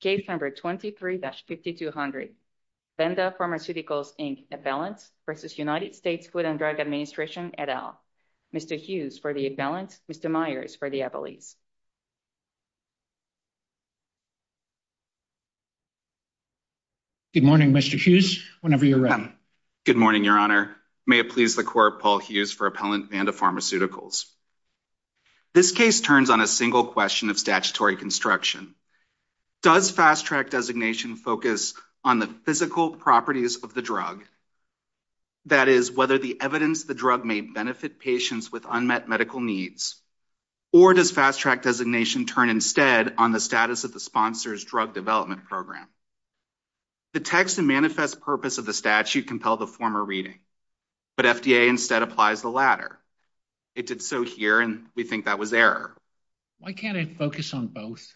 Case number 23-5200, Vanda Pharmaceuticals, Inc. Appellants v. United States Food and Drug Administration, et al. Mr. Hughes for the Appellants, Mr. Myers for the Appellees. Good morning, Mr. Hughes, whenever you're ready. Good morning, Your Honor. May it please the Court, Paul Hughes for Appellant Vanda Pharmaceuticals. This case turns on a single question of statutory construction. Does Fast-Track designation focus on the physical properties of the drug, that is, whether the evidence of the drug may benefit patients with unmet medical needs, or does Fast-Track designation turn instead on the status of the sponsor's drug development program? The text and manifest purpose of the statute compel the former reading, but FDA instead applies the latter. It did so here, and we think that was error. Why can't it focus on both?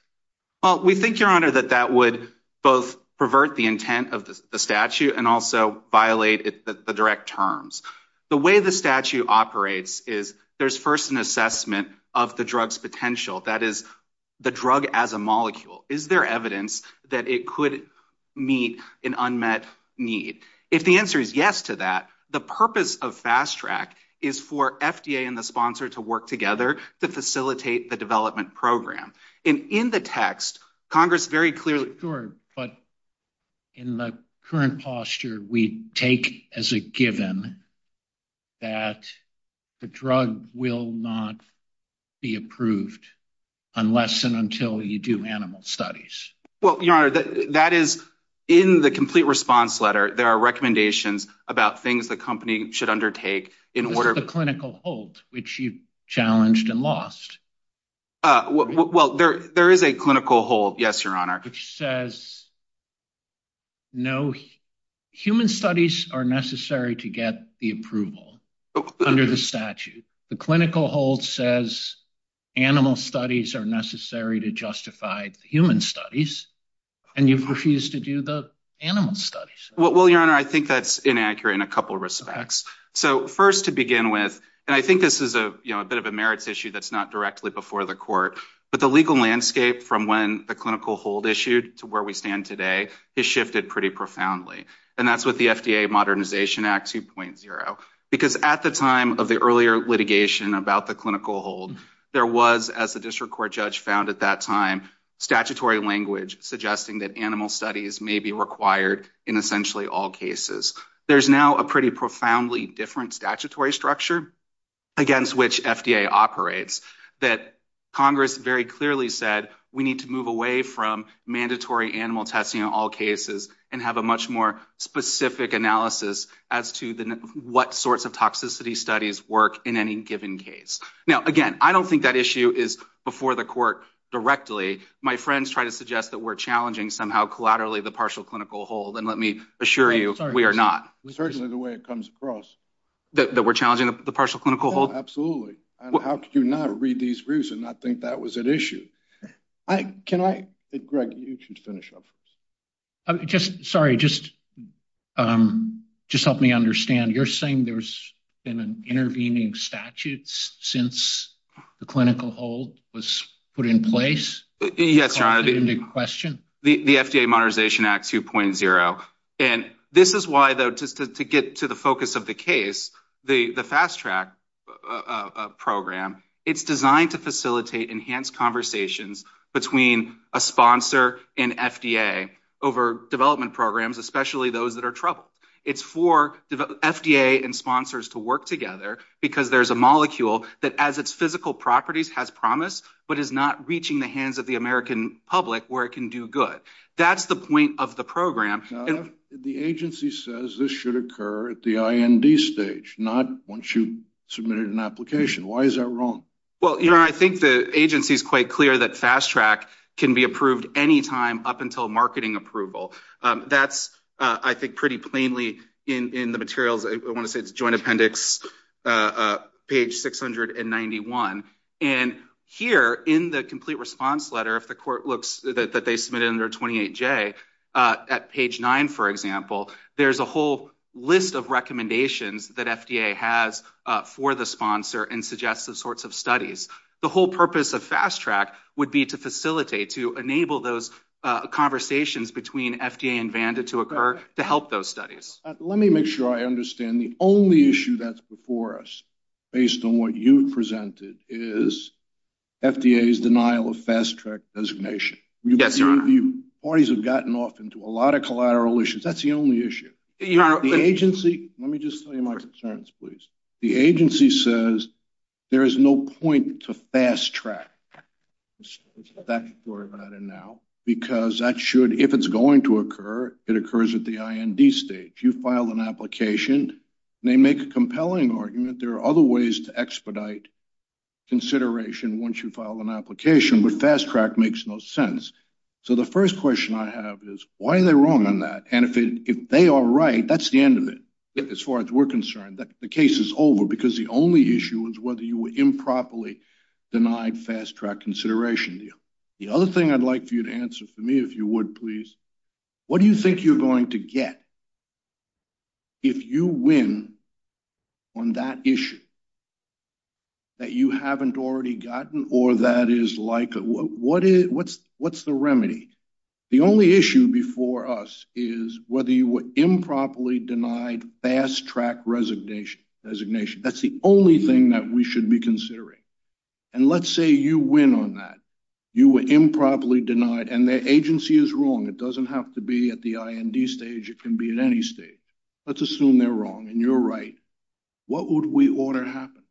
Well, we think, Your Honor, that that would both pervert the intent of the statute and also violate the direct terms. The way the statute operates is there's first an assessment of the drug's potential, that is, the drug as a molecule. Is there evidence that it could meet an unmet need? If the answer is yes to that, the purpose of Fast-Track is for FDA and the sponsor to work together to facilitate the development program. And in the text, Congress very clearly... Sure, but in the current posture, we take as a given that the drug will not be approved unless and until you do animal studies. Well, Your Honor, that is in the complete response letter. There are recommendations about things the company should undertake in order... This is the clinical hold, which you challenged and lost. Uh, well, there is a clinical hold, yes, Your Honor. Which says, no, human studies are necessary to get the approval under the statute. The clinical hold says animal studies are necessary to justify human studies, and you've refused to do the animal studies. Well, Your Honor, I think that's inaccurate in a couple of respects. So first, to begin with, and I think this is a bit of a merits issue that's not directly before the court, but the legal landscape from when the clinical hold issued to where we stand today has shifted pretty profoundly. And that's what the FDA Modernization Act 2.0, because at the time of the earlier litigation about the clinical hold, there was, as the district court judge found at that time, statutory language suggesting that animal studies may be required in essentially all cases. There's now a pretty profoundly different statutory structure against which FDA operates that Congress very clearly said we need to move away from mandatory animal testing in all cases and have a much more specific analysis as to what sorts of toxicity studies work in any given case. Now, again, I don't think that issue is before the court directly. My friends try to suggest that we're challenging somehow collaterally the partial clinical hold. And let me assure you, we are not. Certainly the way it comes across. We're challenging the partial clinical hold. How could you not read these reason? I think that was an issue. Can I Greg, you can finish up. Just sorry. Just just help me understand. You're saying there's been an intervening statutes since the clinical hold was put in place. Yes, your honor. The question, the FDA Modernization Act 2.0. And this is why, though, just to get to the focus of the case, the fast track program, it's designed to facilitate enhanced conversations between a sponsor and FDA over development programs, especially those that are troubled. It's for FDA and sponsors to work together because there's a molecule that as its physical properties has promise, but is not reaching the hands of the American public where it can do good. That's the point of the program. The agency says this should occur at the stage, not once you submitted an application. Why is that wrong? Well, you know, I think the agency is quite clear that fast track can be approved anytime up until marketing approval. That's, I think, pretty plainly in the materials. I want to say it's joint appendix page 691. And here in the complete response letter, if the court looks that they submitted under 28 at page nine, for example, there's a whole list of recommendations that FDA has for the sponsor and suggest the sorts of studies the whole purpose of fast track would be to facilitate to enable those conversations between FDA and Vanda to occur to help those studies. Let me make sure I understand the only issue that's before us based on what you've presented is FDA's denial of fast track designation. Yes, your honor. Parties have gotten off into a lot of collateral issues. That's the only issue. The agency. Let me just tell you my concerns, please. The agency says there is no point to fast track. Because that should, if it's going to occur, it occurs at the IND stage. You file an application and they make a compelling argument. There are other ways to expedite consideration once you file an application. But fast track makes no sense. So the first question I have is why are they wrong on that? And if they are right, that's the end of it. As far as we're concerned, the case is over because the only issue is whether you were improperly denied fast track consideration. The other thing I'd like for you to answer for me, if you would, please. What do you think you're going to get? If you win on that issue that you haven't already gotten or that is like, what's the remedy? The only issue before us is whether you were improperly denied fast track designation. That's the only thing that we should be considering. And let's say you win on that. You were improperly denied and the agency is wrong. It doesn't have to be at the IND stage. It can be at any stage. Let's assume they're wrong and you're right. What would we order happen?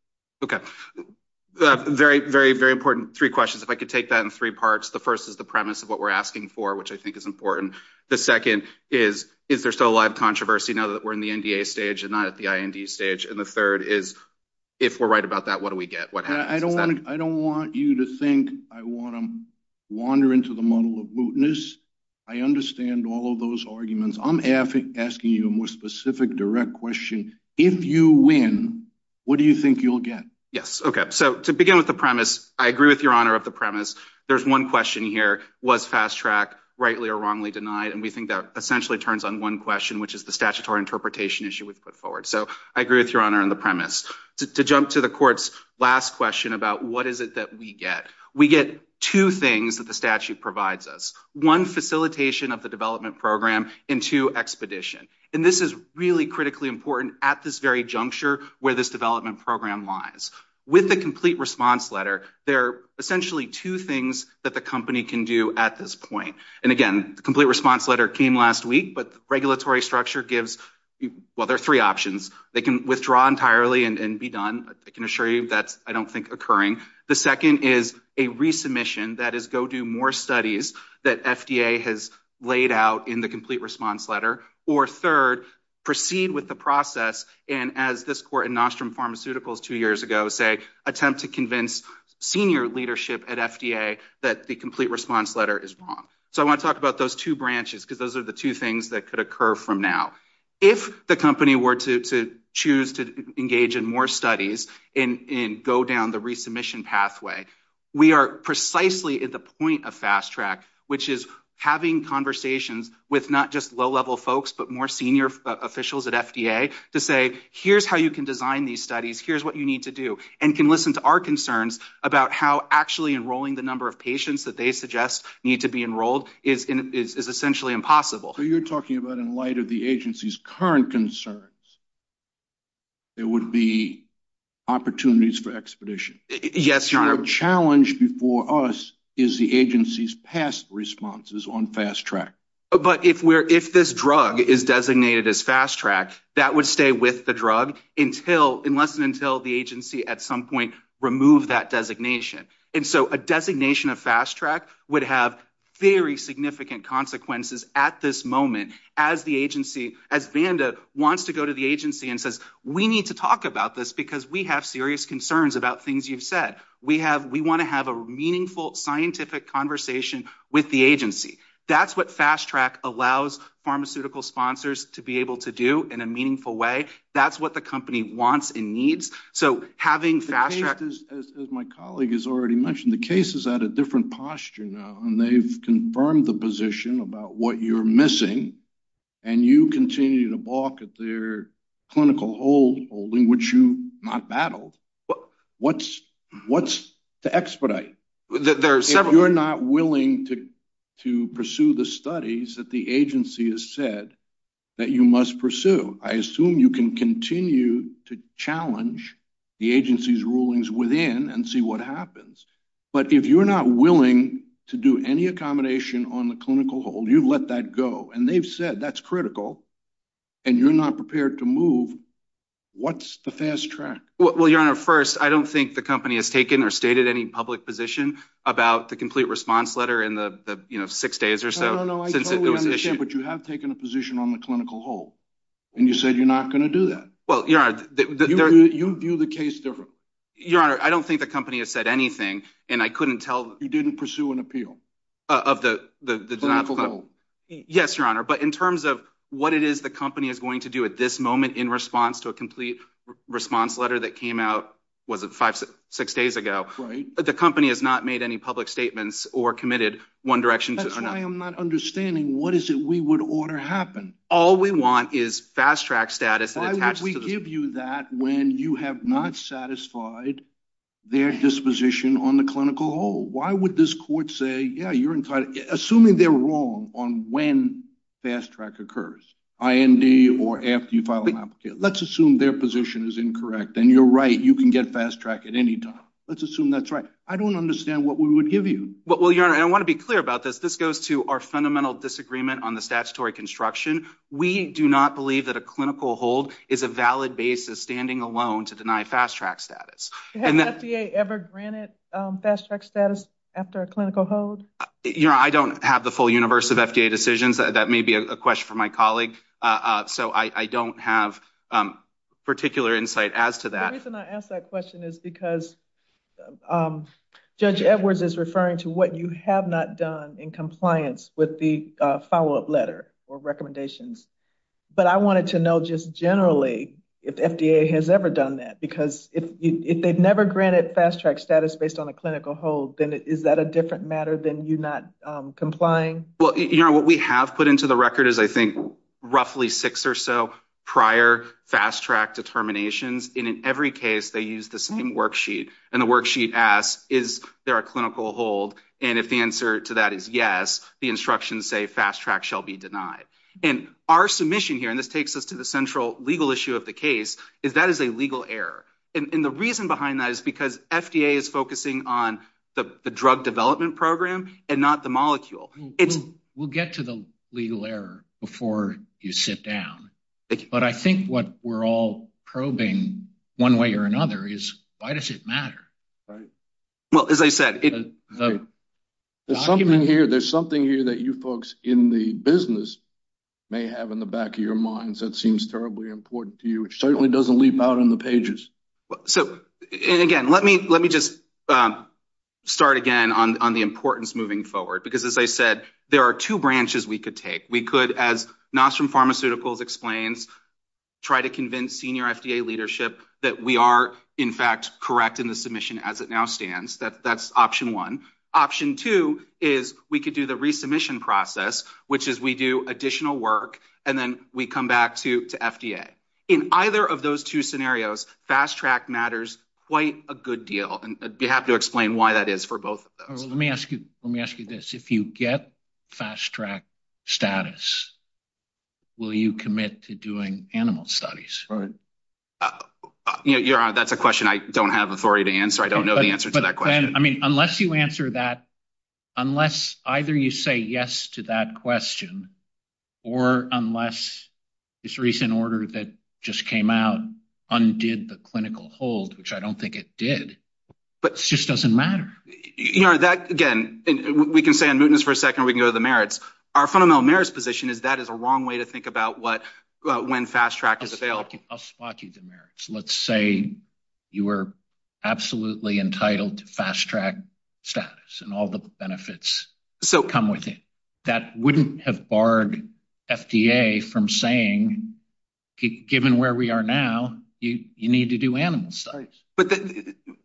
Very, very, very important. Three questions. If I could take that in three parts. The first is the premise of what we're asking for, which I think is important. The second is, is there still a lot of controversy now that we're in the NDA stage and not at the IND stage? And the third is, if we're right about that, what do we get? I don't want you to think I want to wander into the muddle of mootness. I understand all of those arguments. I'm asking you a more specific, direct question. If you win, what do you think you'll get? Yes. Okay. So to begin with the premise, I agree with your honor of the premise. There's one question here. Was fast track rightly or wrongly denied? And we think that essentially turns on one question, which is the statutory interpretation issue we've put forward. So I agree with your honor on the premise. To jump to the court's last question about what is it that we get? We get two things that the statute provides us. One, facilitation of the development program. And two, expedition. And this is really critically important at this very juncture where this development program lies. With the complete response letter, there are essentially two things that the company can do at this point. And again, the complete response letter came last week. But the regulatory structure gives, well, there are three options. They can withdraw entirely and be done. I can assure you that's, I don't think, occurring. The second is a resubmission. That is, go do more studies that FDA has laid out in the complete response letter. Or third, proceed with the process. And as this court in Nostrum Pharmaceuticals two years ago say, attempt to convince senior leadership at FDA that the complete response letter is wrong. So I want to talk about those two branches because those are the two things that could occur from now. If the company were to choose to engage in more studies and go down the resubmission pathway, we are precisely at the point of fast track, which is having conversations with not just low-level folks but more senior officials at FDA to say, here's how you can design these studies. Here's what you need to do. And can listen to our concerns about how actually enrolling the number of patients that they suggest need to be enrolled is essentially impossible. So you're talking about in light of the agency's current concerns, there would be opportunities for expedition. Yes, your honor. Challenge before us is the agency's past responses on fast track. But if we're, if this drug is designated as fast track, that would stay with the drug until, unless and until the agency at some point remove that designation. And so a designation of fast track would have very significant consequences at this moment as the agency, as Vanda wants to go to the agency and says, we need to talk about this because we have serious concerns about things you've said. We have, we want to have a meaningful scientific conversation with the agency. That's what fast track allows pharmaceutical sponsors to be able to do in a meaningful way. That's what the company wants and needs. So having fast track. As my colleague has already mentioned, the case is at a different posture now, and they've confirmed the position about what you're missing. And you continue to balk at their clinical hold holding, which you not battled. What's what's the expedite? There are several. You're not willing to, to pursue the studies that the agency has said that you must pursue. I assume you can continue to challenge the agency's rulings within and see what happens. But if you're not willing to do any accommodation on the clinical hold, you've let that go. And they've said that's critical. And you're not prepared to move. What's the fast track? Well, your honor. First, I don't think the company has taken or stated any public position about the complete response letter in the six days or so, but you have taken a position on the clinical hold and you said you're not going to do that. Well, your honor, you view the case differently. Your honor, I don't think the company has said anything and I couldn't tell. You didn't pursue an appeal of the clinical hold. Yes, your honor. But in terms of what it is the company is going to do at this moment in response to a complete response letter that came out, was it five, six days ago, the company has not made any public statements or committed one direction. That's why I'm not understanding. What is it we would order happen? All we want is fast track status. Why would we give you that when you have not satisfied their disposition on the clinical hold? Why would this court say, yeah, you're entitled, assuming they're wrong on when fast track occurs, IND or after you file an application. Let's assume their position is incorrect and you're right. You can get fast track at any time. Let's assume that's right. I don't understand what we would give you. Well, your honor, I want to be clear about this. This goes to our fundamental disagreement on the statutory construction. We do not believe that a clinical hold is a valid basis standing alone to deny fast track status. Has FDA ever granted fast track status after a clinical hold? I don't have the full universe of FDA decisions. That may be a question for my colleague. So I don't have particular insight as to that. The reason I ask that question is because Judge Edwards is referring to what you have not done in compliance with the follow-up letter or recommendations. But I wanted to know just generally if FDA has ever done that, because if they've never granted fast track status based on a clinical hold, then is that a different matter than you not complying? Well, your honor, what we have put into the record is, I think, roughly six or so prior fast track determinations. And in every case, they use the same worksheet. And the worksheet asks, is there a clinical hold? And if the answer to that is yes, the instructions say fast track shall be denied. And our submission here, and this takes us to the central legal issue of the case, is that is a legal error. And the reason behind that is because FDA is focusing on the drug development program and not the molecule. We'll get to the legal error before you sit down. But I think what we're all probing, one way or another, is why does it matter? Right? Well, as I said, there's something here that you folks in the business may have in the back of your minds that seems terribly important to you. It certainly doesn't leap out on the pages. So again, let me just start again on the importance moving forward. Because as I said, there are two branches we could take. We could, as Nostrom Pharmaceuticals explains, try to convince senior FDA leadership that we are, in fact, correct in the submission as it now stands. That's option one. Option two is we could do the resubmission process, which is we do additional work, and then we come back to FDA. In either of those two scenarios, fast track matters quite a good deal. And I'd be happy to explain why that is for both of those. Let me ask you this. If you get fast track status, will you commit to doing animal studies? Right. Your Honor, that's a question I don't have authority to answer. I don't know the answer to that question. I mean, unless you answer that, unless either you say yes to that question, or unless this recent order that just came out undid the clinical hold, which I don't think it did, but it just doesn't matter. That, again, we can stay on mootness for a second. We can go to the merits. Our fundamental merits position is that is a wrong way to think about when fast track is available. I'll spot you the merits. Let's say you were absolutely entitled to fast track status and all the benefits come with it. That wouldn't have barred FDA from saying, given where we are now, you need to do animal studies. But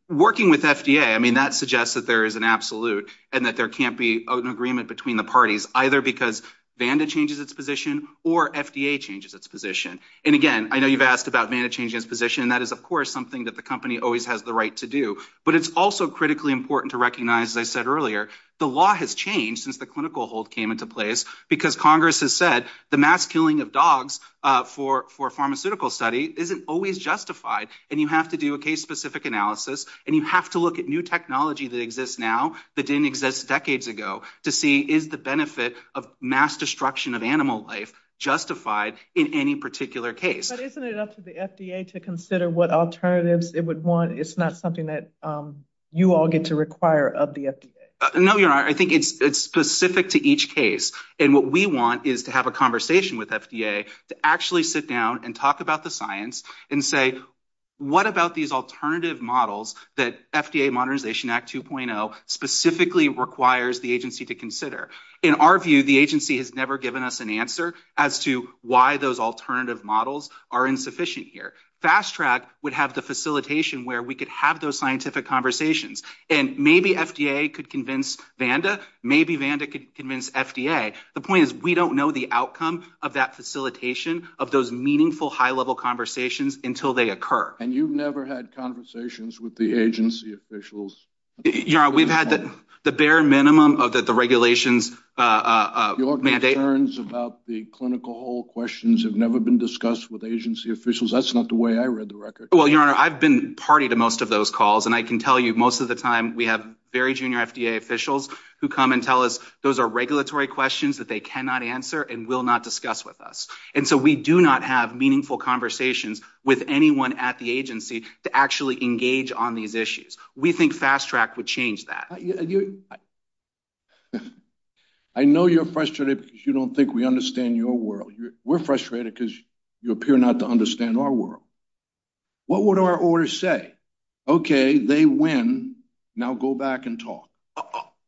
working with FDA, I mean, that suggests that there is an absolute and that there can't be an agreement between the parties, either because VANDA changes its position or FDA changes its position. And again, I know you've asked about VANDA changing its position, and that is, of course, something that the company always has the right to do. But it's also critically important to recognize, as I said earlier, the law has changed since the clinical hold came into place because Congress has said the mass killing of dogs for a pharmaceutical study isn't always justified. And you have to do a case-specific analysis, and you have to look at new technology that exists now that didn't exist decades ago to see is the benefit of mass destruction of animal life justified in any particular case. But isn't it up to the FDA to consider what alternatives it would want? It's not something that you all get to require of the FDA. No, you're right. I think it's specific to each case. And what we want is to have a conversation with FDA to actually sit down and talk about the science and say, what about these alternative models that FDA Modernization Act 2.0 specifically requires the agency to consider? In our view, the agency has never given us an answer as to why those alternative models are insufficient here. Fast-Track would have the facilitation where we could have those scientific conversations. And maybe FDA could convince Vanda. Maybe Vanda could convince FDA. The point is, we don't know the outcome of that facilitation of those meaningful, high-level conversations until they occur. And you've never had conversations with the agency officials? Your Honor, we've had the bare minimum of the regulations. Your concerns about the clinical hall questions have never been discussed with agency officials. That's not the way I read the record. Well, Your Honor, I've been party to most of those calls. And I can tell you, most of the time, we have very junior FDA officials who come and tell us those are regulatory questions that they cannot answer and will not discuss with us. And so we do not have meaningful conversations with anyone at the agency to actually engage on these issues. We think Fast-Track would change that. I know you're frustrated because you don't think we understand your world. We're frustrated because you appear not to understand our world. What would our orders say? OK, they win. Now go back and talk.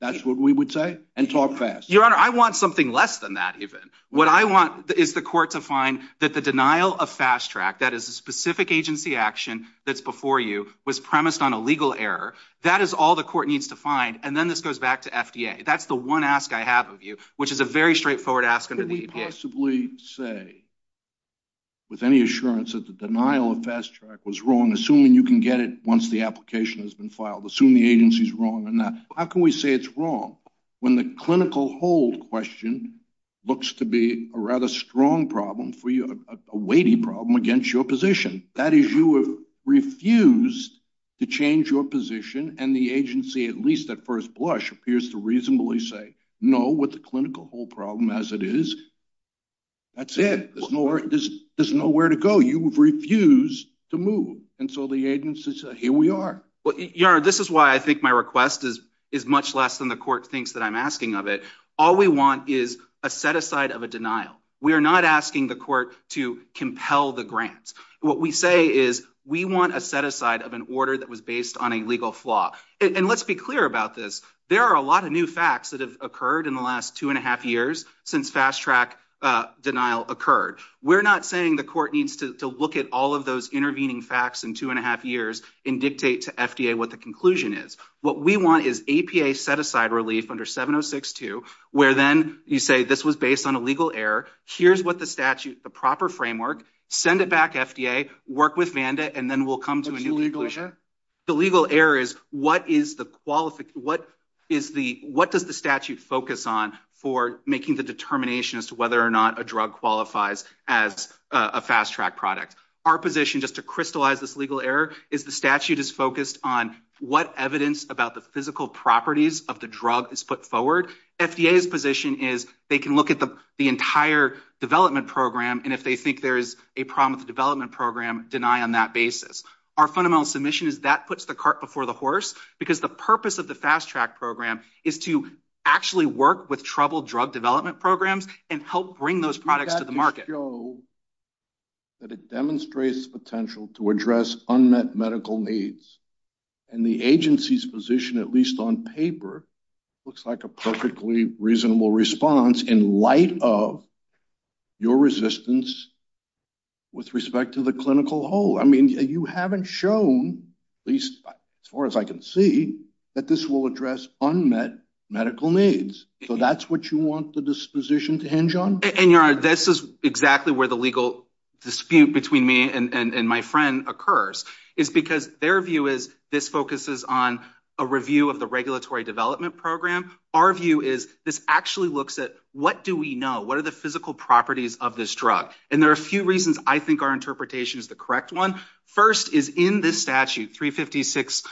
That's what we would say. And talk fast. Your Honor, I want something less than that, even. What I want is the court to find that the denial of Fast-Track, that is a specific agency action that's before you, was premised on a legal error. That is all the court needs to find. And then this goes back to FDA. That's the one ask I have of you, which is a very straightforward ask under the EPA. Could we possibly say with any assurance that the denial of Fast-Track was wrong, assuming you can get it once the application has been filed, assuming the agency's wrong or not? How can we say it's wrong when the clinical hold question looks to be a rather strong problem for you, a weighty problem against your position? That is, you have refused to change your position. And the agency, at least at first blush, appears to reasonably say, no, with the clinical hold problem as it is, that's it. There's nowhere to go. You have refused to move. And so the agency says, here we are. Well, Your Honor, this is why I think my request is much less than the court thinks that I'm asking of it. All we want is a set-aside of a denial. We are not asking the court to compel the grant. What we say is we want a set-aside of an order that was based on a legal flaw. And let's be clear about this. There are a lot of new facts that have occurred in the last two and a half years since Fast-Track denial occurred. We're not saying the court needs to look at all of those intervening facts in two and a half years and dictate to FDA what the conclusion is. What we want is EPA set-aside relief under 7062, where then you say this was based on a legal error. Here's what the statute, the proper framework. Send it back to FDA, work with Vanda, and then we'll come to a new conclusion. What's the legal error? The legal error is what does the statute focus on for making the determination as to whether or not a drug qualifies as a Fast-Track product. Our position, just to crystallize this legal error, is the statute is focused on what evidence about the physical properties of the drug is put forward. FDA's position is they can look at the entire development program, and if they think there a problem with the development program, deny on that basis. Our fundamental submission is that puts the cart before the horse, because the purpose of the Fast-Track program is to actually work with troubled drug development programs and help bring those products to the market. You've got to show that it demonstrates potential to address unmet medical needs. And the agency's position, at least on paper, looks like a perfectly reasonable response in light of your resistance with respect to the clinical whole. I mean, you haven't shown, at least as far as I can see, that this will address unmet medical needs. So that's what you want the disposition to hinge on? And your honor, this is exactly where the legal dispute between me and my friend occurs, is because their view is this focuses on a review of the regulatory development program. Our view is this actually looks at what do we know? What are the physical properties of this drug? And there are a few reasons I think our interpretation is the correct one. First is in this statute, 356,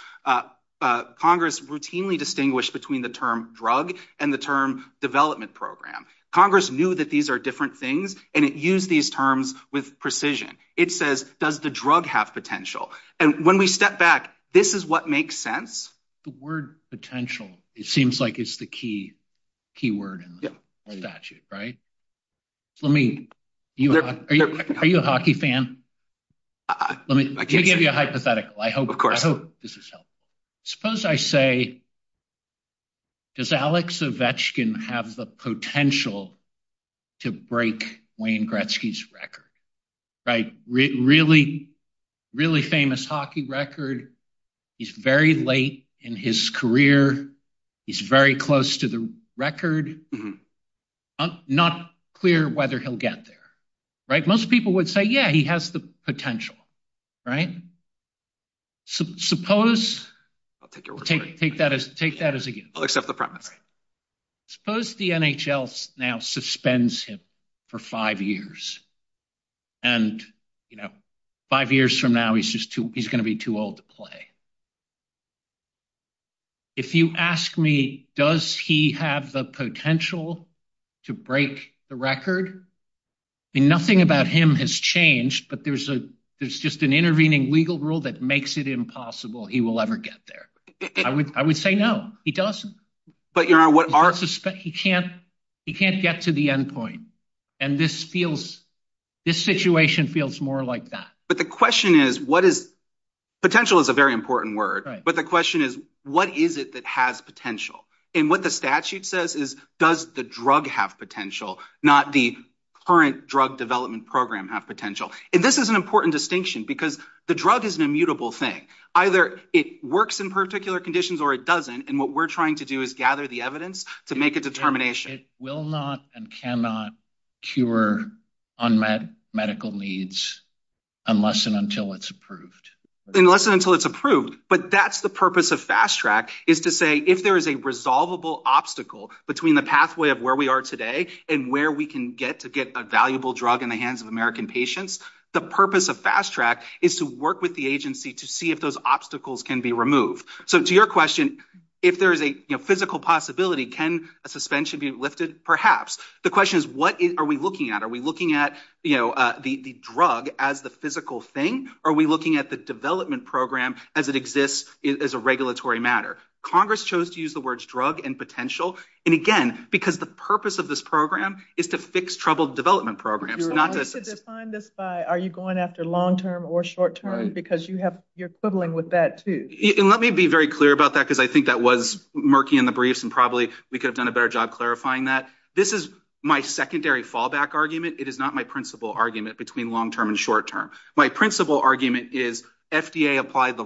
Congress routinely distinguished between the term drug and the term development program. Congress knew that these are different things, and it used these terms with precision. It says, does the drug have potential? And when we step back, this is what makes sense. The word potential, it seems like it's the key word in the statute, right? Are you a hockey fan? Let me give you a hypothetical. I hope this is helpful. Suppose I say, does Alex Ovechkin have the potential to break Wayne Gretzky's record? Really, really famous hockey record. He's very late in his career. He's very close to the record. Not clear whether he'll get there, right? Most people would say, yeah, he has the potential, right? Suppose, I'll take that as a yes. I'll accept the premise. Suppose the NHL now suspends him for five years. And five years from now, he's going to be too old to play. If you ask me, does he have the potential to break the record? Nothing about him has changed, but there's just an intervening legal rule that makes it impossible he will ever get there. I would say no, he doesn't. He can't get to the end point. And this situation feels more like that. But the question is, potential is a very important word. But the question is, what is it that has potential? And what the statute says is, does the drug have potential, not the current drug development program have potential? And this is an important distinction because the drug is an immutable thing. Either it works in particular conditions or it doesn't. And what we're trying to do is gather the evidence to make a determination. It will not and cannot cure unmet medical needs unless and until it's approved. Unless and until it's approved. But that's the purpose of Fast Track, is to say if there is a resolvable obstacle between the pathway of where we are today and where we can get to get a valuable drug in the hands of American patients, the purpose of Fast Track is to work with the agency to see if those obstacles can be removed. So to your question, if there is a physical possibility, can a suspension be lifted? Perhaps. The question is, what are we looking at? Are we looking at the drug as the physical thing? Are we looking at the development program as it exists as a regulatory matter? Congress chose to use the words drug and potential. And again, because the purpose of this program is to fix troubled development programs, not to define this by, are you going after long term or short term? Because you're quibbling with that too. And let me be very clear about that, because I think that was murky in the briefs. And probably we could have done a better job clarifying that. This is my secondary fallback argument. It is not my principal argument between long term and short term. My principal argument is FDA applied the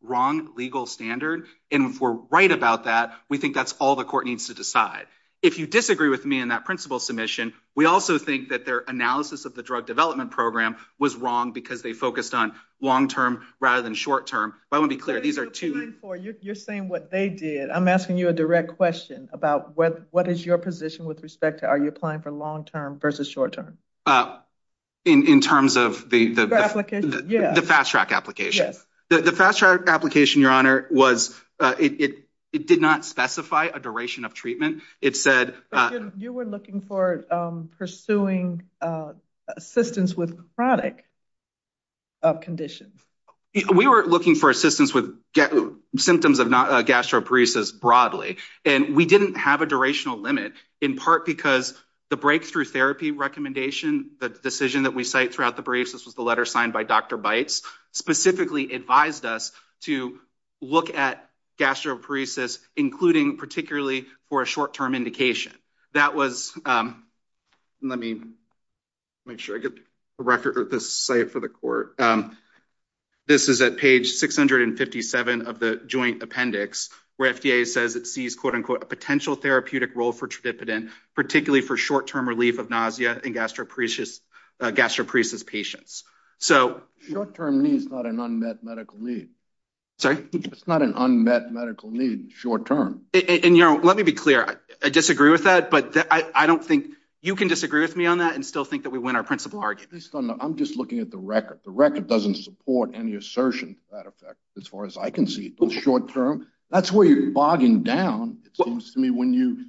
wrong legal standard. And if we're right about that, we think that's all the court needs to decide. If you disagree with me in that principal submission, we also think that their analysis of the drug development program was wrong because they focused on long term rather than short term. But I want to be clear, these are two- You're saying what they did. I'm asking you a direct question about what is your position with respect to are you applying for long term versus short term? In terms of the- The application? Yeah. The Fast Track application. Yes. The Fast Track application, Your Honor, it did not specify a duration of treatment. It said- You were looking for pursuing assistance with chronic conditions. We were looking for assistance with symptoms of gastroparesis broadly. And we didn't have a durational limit in part because the breakthrough therapy recommendation, the decision that we cite throughout the briefs, this was the letter signed by Dr. Bites, specifically advised us to look at gastroparesis, including particularly for a short term indication. That was- Let me make sure I get a record of this cite for the court. This is at page 657 of the joint appendix, where FDA says it sees, quote unquote, a potential therapeutic role for tridipidine, particularly for short term relief of nausea in gastroparesis patients. So- Short term need is not an unmet medical need. Sorry? It's not an unmet medical need, short term. And Your Honor, let me be clear. I disagree with that. But I don't think- You can disagree with me on that and still think that we win our principal argument. I'm just looking at the record. The record doesn't support any assertion to that effect, as far as I can see, short term. That's where you're bogging down, it seems to me, when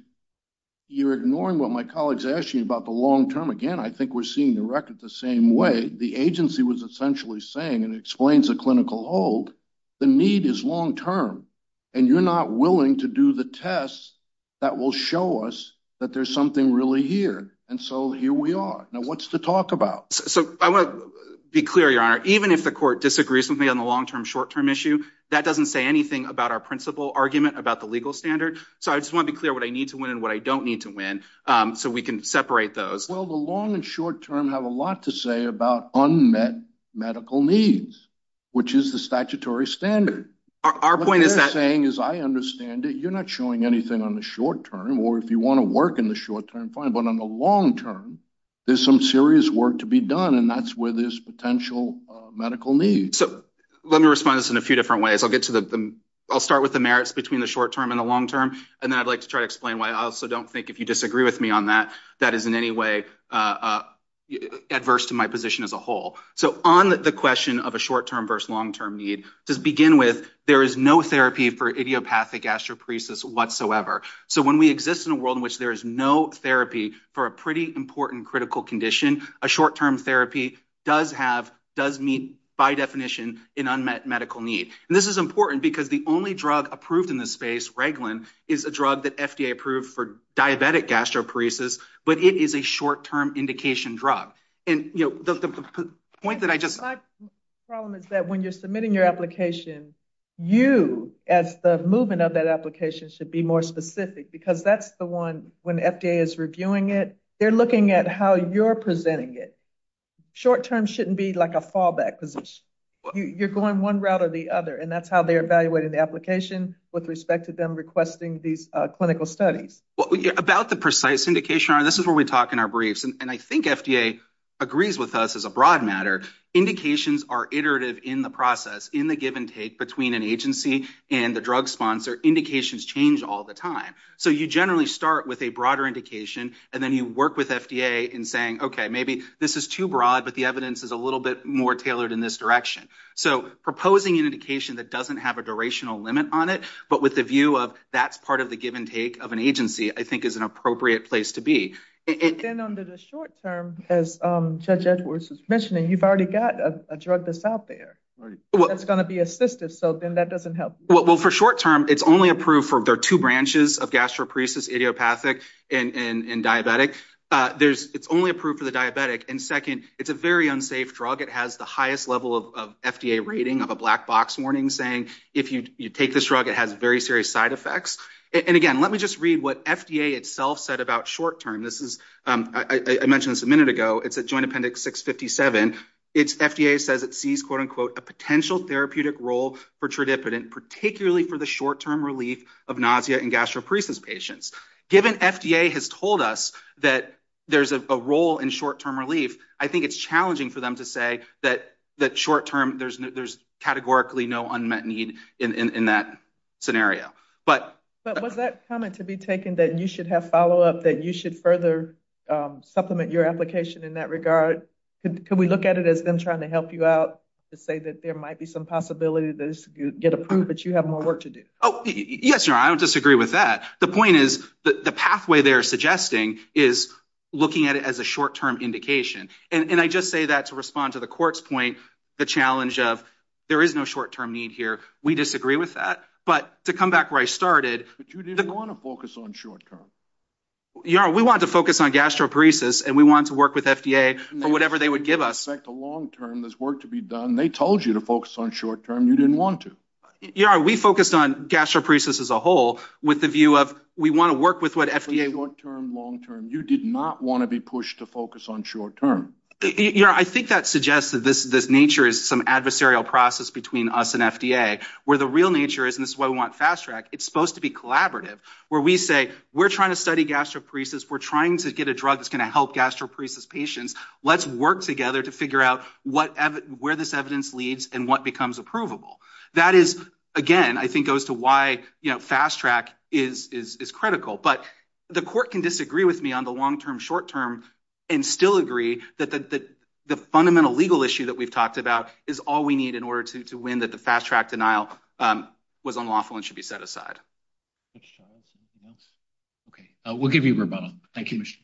you're ignoring what my colleagues asked you about the long term. Again, I think we're seeing the record the same way. The agency was essentially saying, and it explains the clinical hold, the need is long term. And you're not willing to do the tests that will show us that there's something really here. And so here we are. Now, what's to talk about? So I want to be clear, Your Honor. Even if the court disagrees with me on the long term, short term issue, that doesn't say anything about our principal argument about the legal standard. So I just want to be clear what I need to win and what I don't need to win so we can separate those. Well, the long and short term have a lot to say about unmet medical needs, which is the statutory standard. Our point is that- What they're saying, as I understand it, you're not showing anything on the short term, or if you want to work in the short term, fine. But on the long term, there's some serious work to be done. And that's where there's potential medical needs. So let me respond to this in a few different ways. I'll start with the merits between the short term and the long term. And then I'd like to try to explain why I also don't think, if you disagree with me on that, that is in any way adverse to my position as a whole. So on the question of a short term versus long term need, to begin with, there is no therapy for idiopathic astroparesis whatsoever. So when we exist in a world in which there is no therapy for a pretty important critical condition, a short term therapy does meet, by definition, an unmet medical need. And this is important because the only drug approved in this space, Reglan, is a drug that FDA approved for diabetic gastroparesis, but it is a short term indication drug. And the point that I just- My problem is that when you're submitting your application, you, as the movement of that application, should be more specific because that's the one, when FDA is reviewing it, they're looking at how you're presenting it. Short term shouldn't be like a fallback position. You're going one route or the other, and that's how they're evaluating the application with respect to them requesting these clinical studies. About the precise indication, this is where we talk in our briefs, and I think FDA agrees with us as a broad matter, indications are iterative in the process, in the give and take of an agency and the drug sponsor, indications change all the time. So you generally start with a broader indication, and then you work with FDA in saying, okay, maybe this is too broad, but the evidence is a little bit more tailored in this direction. So proposing an indication that doesn't have a durational limit on it, but with the view of that's part of the give and take of an agency, I think is an appropriate place to be. And then under the short term, as Judge Edwards was mentioning, you've already got a drug out there that's going to be assistive, so then that doesn't help. Well, for short term, it's only approved for, there are two branches of gastroparesis, idiopathic and diabetic. It's only approved for the diabetic. And second, it's a very unsafe drug. It has the highest level of FDA rating of a black box warning saying, if you take this drug, it has very serious side effects. And again, let me just read what FDA itself said about short term. This is, I mentioned this a minute ago, it's at Joint Appendix 657. FDA says it sees, quote unquote, a potential therapeutic role for tradipidine, particularly for the short term relief of nausea and gastroparesis patients. Given FDA has told us that there's a role in short term relief, I think it's challenging for them to say that short term, there's categorically no unmet need in that scenario. But was that comment to be taken that you should have follow up, that you should further supplement your application in that regard? Could we look at it as them trying to help you out to say that there might be some possibility that this could get approved, but you have more work to do? Oh, yes, your honor. I don't disagree with that. The point is that the pathway they're suggesting is looking at it as a short term indication. And I just say that to respond to the court's point, the challenge of there is no short term need here. We disagree with that. But to come back where I started. But you didn't want to focus on short term. Your honor, we want to focus on gastroparesis and we want to work with FDA. Or whatever they would give us. In fact, the long term, there's work to be done. They told you to focus on short term. You didn't want to. Your honor, we focused on gastroparesis as a whole with the view of we want to work with what FDA. Short term, long term. You did not want to be pushed to focus on short term. Your honor, I think that suggests that this nature is some adversarial process between us and FDA, where the real nature is, and this is why we want fast track, it's supposed to be collaborative. Where we say, we're trying to study gastroparesis, we're trying to get a drug that's going to help gastroparesis patients. Let's work together to figure out where this evidence leads and what becomes approvable. That is, again, I think goes to why fast track is critical. But the court can disagree with me on the long term, short term, and still agree that the fundamental legal issue that we've talked about is all we need in order to win that the fast track denial was unlawful and should be set aside. Okay, we'll give you a rebuttal. Thank you, Mr.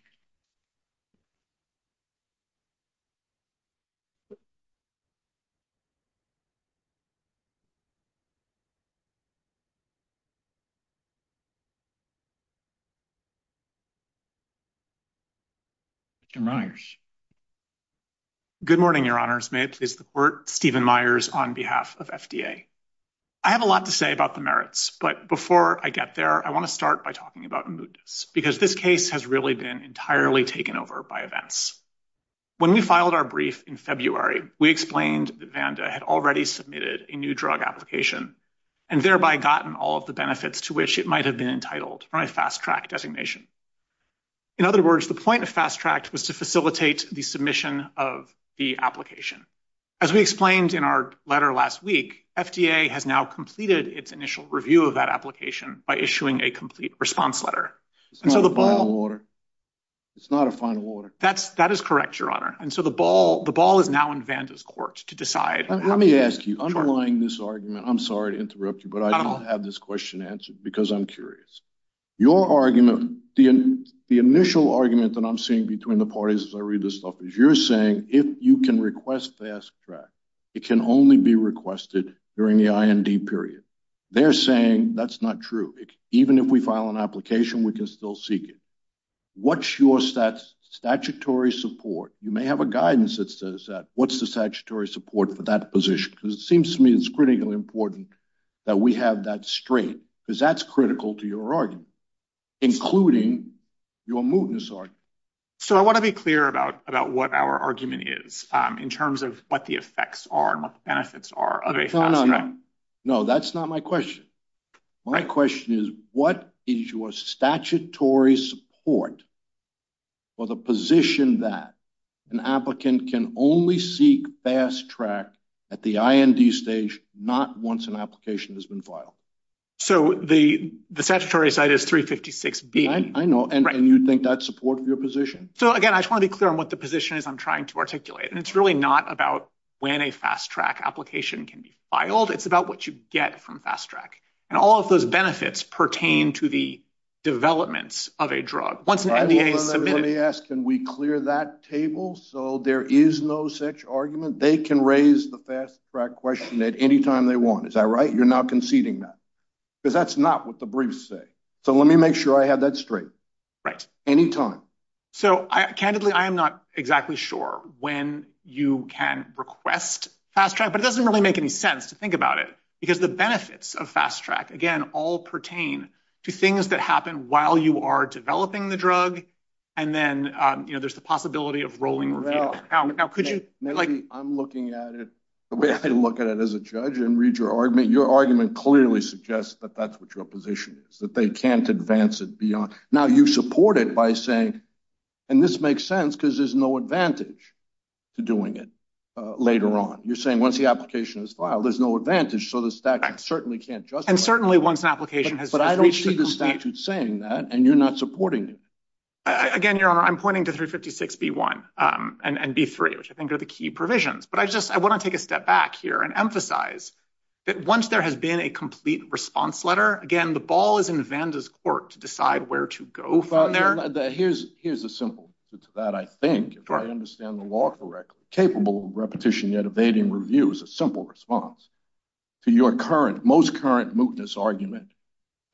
Good morning, Your Honors. May it please the court, Stephen Myers on behalf of FDA. I have a lot to say about the merits, but before I get there, I want to start by talking about mootness, because this case has really been entirely taken over by events. When we filed our brief in February, we explained that Vanda had already submitted a new drug application and thereby gotten all of the benefits to which it might have been entitled for a fast track designation. In other words, the point of fast track was to facilitate the submission of the application. As we explained in our letter last week, FDA has now completed its initial review of that application by issuing a complete response letter. It's not a final order. It's not a final order. That is correct, Your Honor. And so the ball is now in Vanda's court to decide. Let me ask you, underlying this argument, I'm sorry to interrupt you, but I don't have this question answered because I'm curious. Your argument, the initial argument that I'm seeing between the parties as I read this is you're saying if you can request fast track, it can only be requested during the IND period. They're saying that's not true. Even if we file an application, we can still seek it. What's your statutory support? You may have a guidance that says that. What's the statutory support for that position? Because it seems to me it's critically important that we have that strength, because that's critical to your argument, including your mootness argument. So I want to be clear about what our argument is in terms of what the effects are and what the benefits are of a fast track. No, that's not my question. My question is, what is your statutory support for the position that an applicant can only seek fast track at the IND stage, not once an application has been filed? So the statutory site is 356B. I know, and you think that's support for your position? So again, I just want to be clear on what the position is I'm trying to articulate. And it's really not about when a fast track application can be filed. It's about what you get from fast track. And all of those benefits pertain to the developments of a drug. Once an NDA is submitted. Let me ask, can we clear that table so there is no such argument? They can raise the fast track question at any time they want. Is that right? You're not conceding that, because that's not what the briefs say. So let me make sure I have that straight. Anytime. So, candidly, I am not exactly sure when you can request fast track. But it doesn't really make any sense to think about it. Because the benefits of fast track, again, all pertain to things that happen while you are developing the drug. And then, you know, there's the possibility of rolling. I'm looking at it the way I look at it as a judge and read your argument. Your argument clearly suggests that that's what your position is. That they can't advance it beyond. Now, you support it by saying. And this makes sense because there's no advantage to doing it later on. You're saying once the application is filed, there's no advantage. So the statute certainly can't just. And certainly once an application has. But I don't see the statute saying that. And you're not supporting it. Again, your honor, I'm pointing to 356 B1 and B3, which I think are the key provisions. But I just I want to take a step back here and emphasize that once there has been a complete response letter again, the ball is in Vanda's court to decide where to go from there. Here's here's a simple to that. I think if I understand the law correctly, capable of repetition, yet evading review is a simple response to your current most current mutinous argument.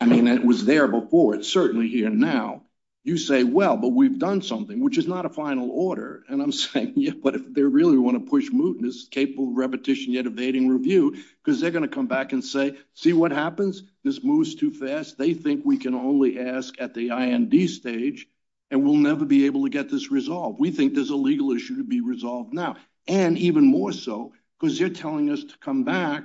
I mean, it was there before. It's certainly here now. You say, well, but we've done something which is not a final order. And I'm saying, yeah, but if they really want to push mutinous, capable repetition, yet evading review, because they're going to come back and say, see what happens. This moves too fast. They think we can only ask at the stage and we'll never be able to get this resolved. We think there's a legal issue to be resolved now and even more so because they're telling us to come back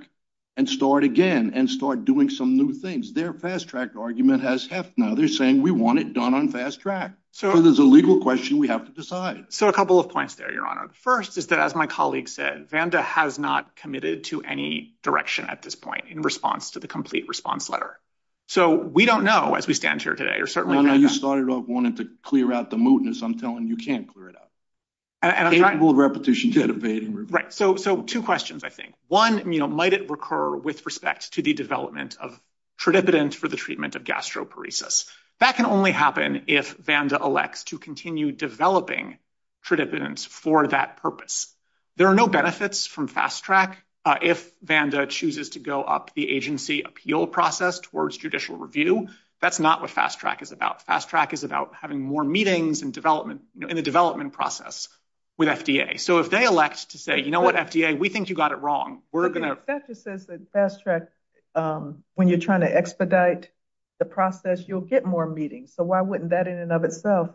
and start again and start doing some new things. Their fast track argument has half. Now they're saying we want it done on fast track. So there's a legal question we have to decide. So a couple of points there, your honor. The first is that, as my colleague said, Vanda has not committed to any direction at this point in response to the complete response letter. So we don't know as we stand here today or certainly you started off wanting to clear out the mutinous. I'm telling you can't clear it out. And I will repetition, yet evading. Right. So so two questions, I think one might recur with respect to the development of tridipitans for the treatment of gastroparesis. That can only happen if Vanda elects to continue developing tridipitans for that purpose. There are no benefits from fast track. If Vanda chooses to go up the agency appeal process towards judicial review, that's not what fast track is about. Fast track is about having more meetings and development in the development process with FDA. So if they elect to say, you know what, FDA, we think you got it wrong. We're going to say fast track when you're trying to expedite the process. You'll get more meetings. So why wouldn't that in and of itself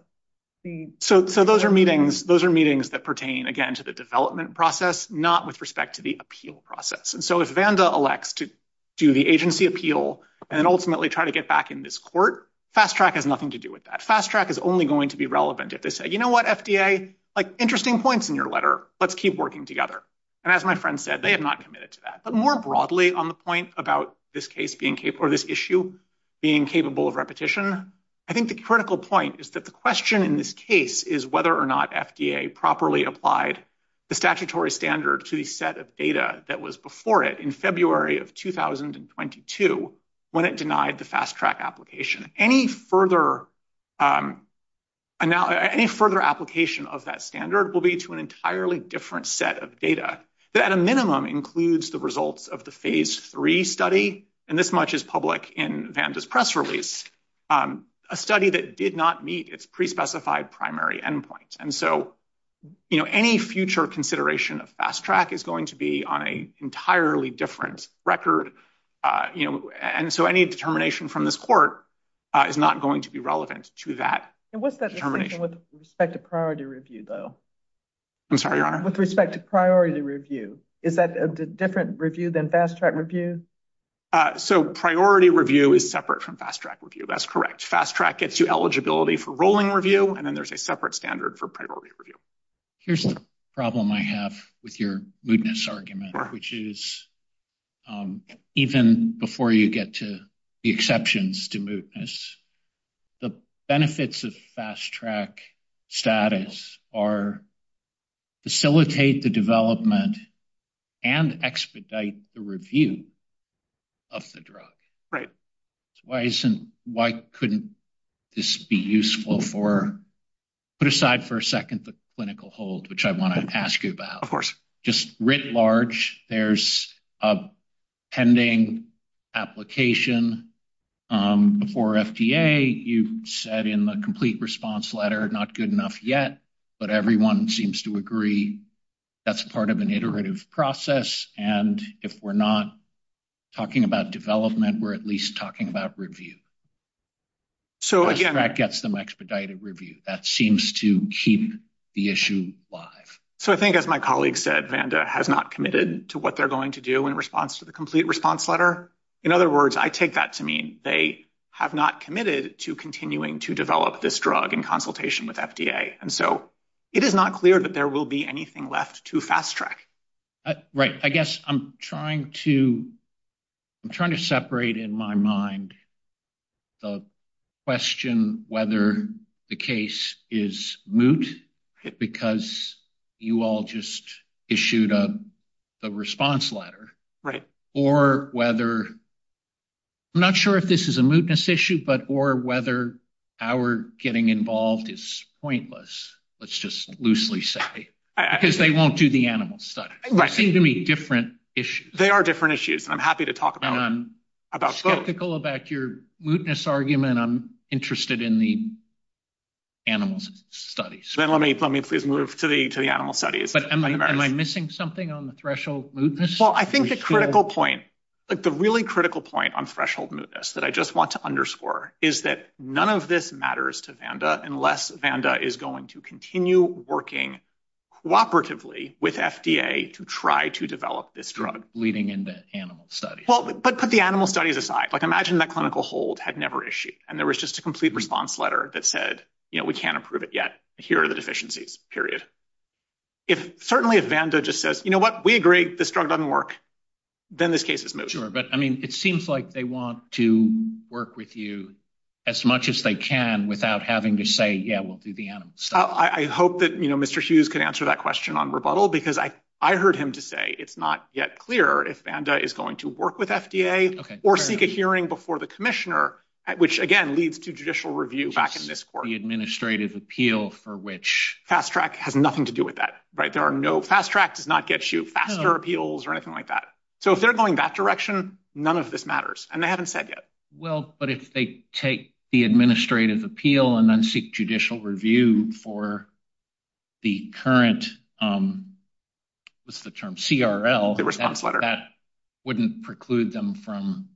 be so? So those are meetings. Those are meetings that pertain again to the development process, not with respect to the appeal process. And so if Vanda elects to do the agency appeal and ultimately try to get back in this court, fast track has nothing to do with that. Fast track is only going to be relevant if they say, you know what, FDA, like interesting points in your letter. Let's keep working together. And as my friend said, they have not committed to that. More broadly on the point about this case being or this issue being capable of repetition, I think the critical point is that the question in this case is whether or not FDA properly applied the statutory standard to the set of data that was before it in February of 2022 when it denied the fast track application. Any further application of that standard will be to an entirely different set of data that at a minimum includes the results of the phase three study and this much is public in Vanda's press release, a study that did not meet its pre-specified primary endpoint. And so, you know, any future consideration of fast track is going to be on an entirely different record. You know, and so any determination from this court is not going to be relevant to that. And what's that with respect to priority review, though? I'm sorry, Your Honor. With respect to priority review, is that a different review than fast track review? So priority review is separate from fast track review. That's correct. Fast track gets you eligibility for rolling review, and then there's a separate standard for priority review. Here's the problem I have with your mootness argument, which is even before you get to the exceptions to mootness, the benefits of fast track status are facilitate the development and expedite the review of the drug. Right. Why couldn't this be useful for, put aside for a second, the clinical hold, which I want to ask you about. Of course. Just writ large, there's a pending application before FDA. You said in the complete response letter, not good enough yet, but everyone seems to agree that's part of an iterative process. And if we're not talking about development, we're at least talking about review. So again, that gets them expedited review. That seems to keep the issue live. So I think as my colleague said, Vanda has not committed to what they're going to do in response to the complete response letter. In other words, I take that to mean they have not committed to continuing to develop this drug in consultation with FDA. And so it is not clear that there will be anything left to fast track. Right. I guess I'm trying to, I'm trying to separate in my mind the question whether the case is because you all just issued a response letter or whether, I'm not sure if this is a mootness issue, but or whether our getting involved is pointless, let's just loosely say, because they won't do the animal study. They seem to be different issues. They are different issues. And I'm happy to talk about both. And I'm skeptical about your mootness argument. I'm interested in the animals studies. Then let me, let me please move to the, to the animal studies. But am I missing something on the threshold mootness? Well, I think the critical point, like the really critical point on threshold mootness that I just want to underscore is that none of this matters to Vanda unless Vanda is going to continue working cooperatively with FDA to try to develop this drug. Leading into animal studies. Well, but put the animal studies aside. Imagine that clinical hold had never issued and there was just a complete response letter that said, you know, we can't approve it yet. Here are the deficiencies, period. If certainly if Vanda just says, you know what, we agree this drug doesn't work, then this case is moot. But I mean, it seems like they want to work with you as much as they can without having to say, yeah, we'll do the animal study. I hope that, you know, Mr. Hughes can answer that question on rebuttal because I heard him to say it's not yet clear if Vanda is going to work with FDA or seek a hearing before the commissioner, which again leads to judicial review back in this court. The administrative appeal for which. Fast Track has nothing to do with that. There are no Fast Track does not get you faster appeals or anything like that. So if they're going that direction, none of this matters. And they haven't said yet. Well, but if they take the administrative appeal and then seek judicial review for the current what's the term? CRL, the response letter that wouldn't preclude them from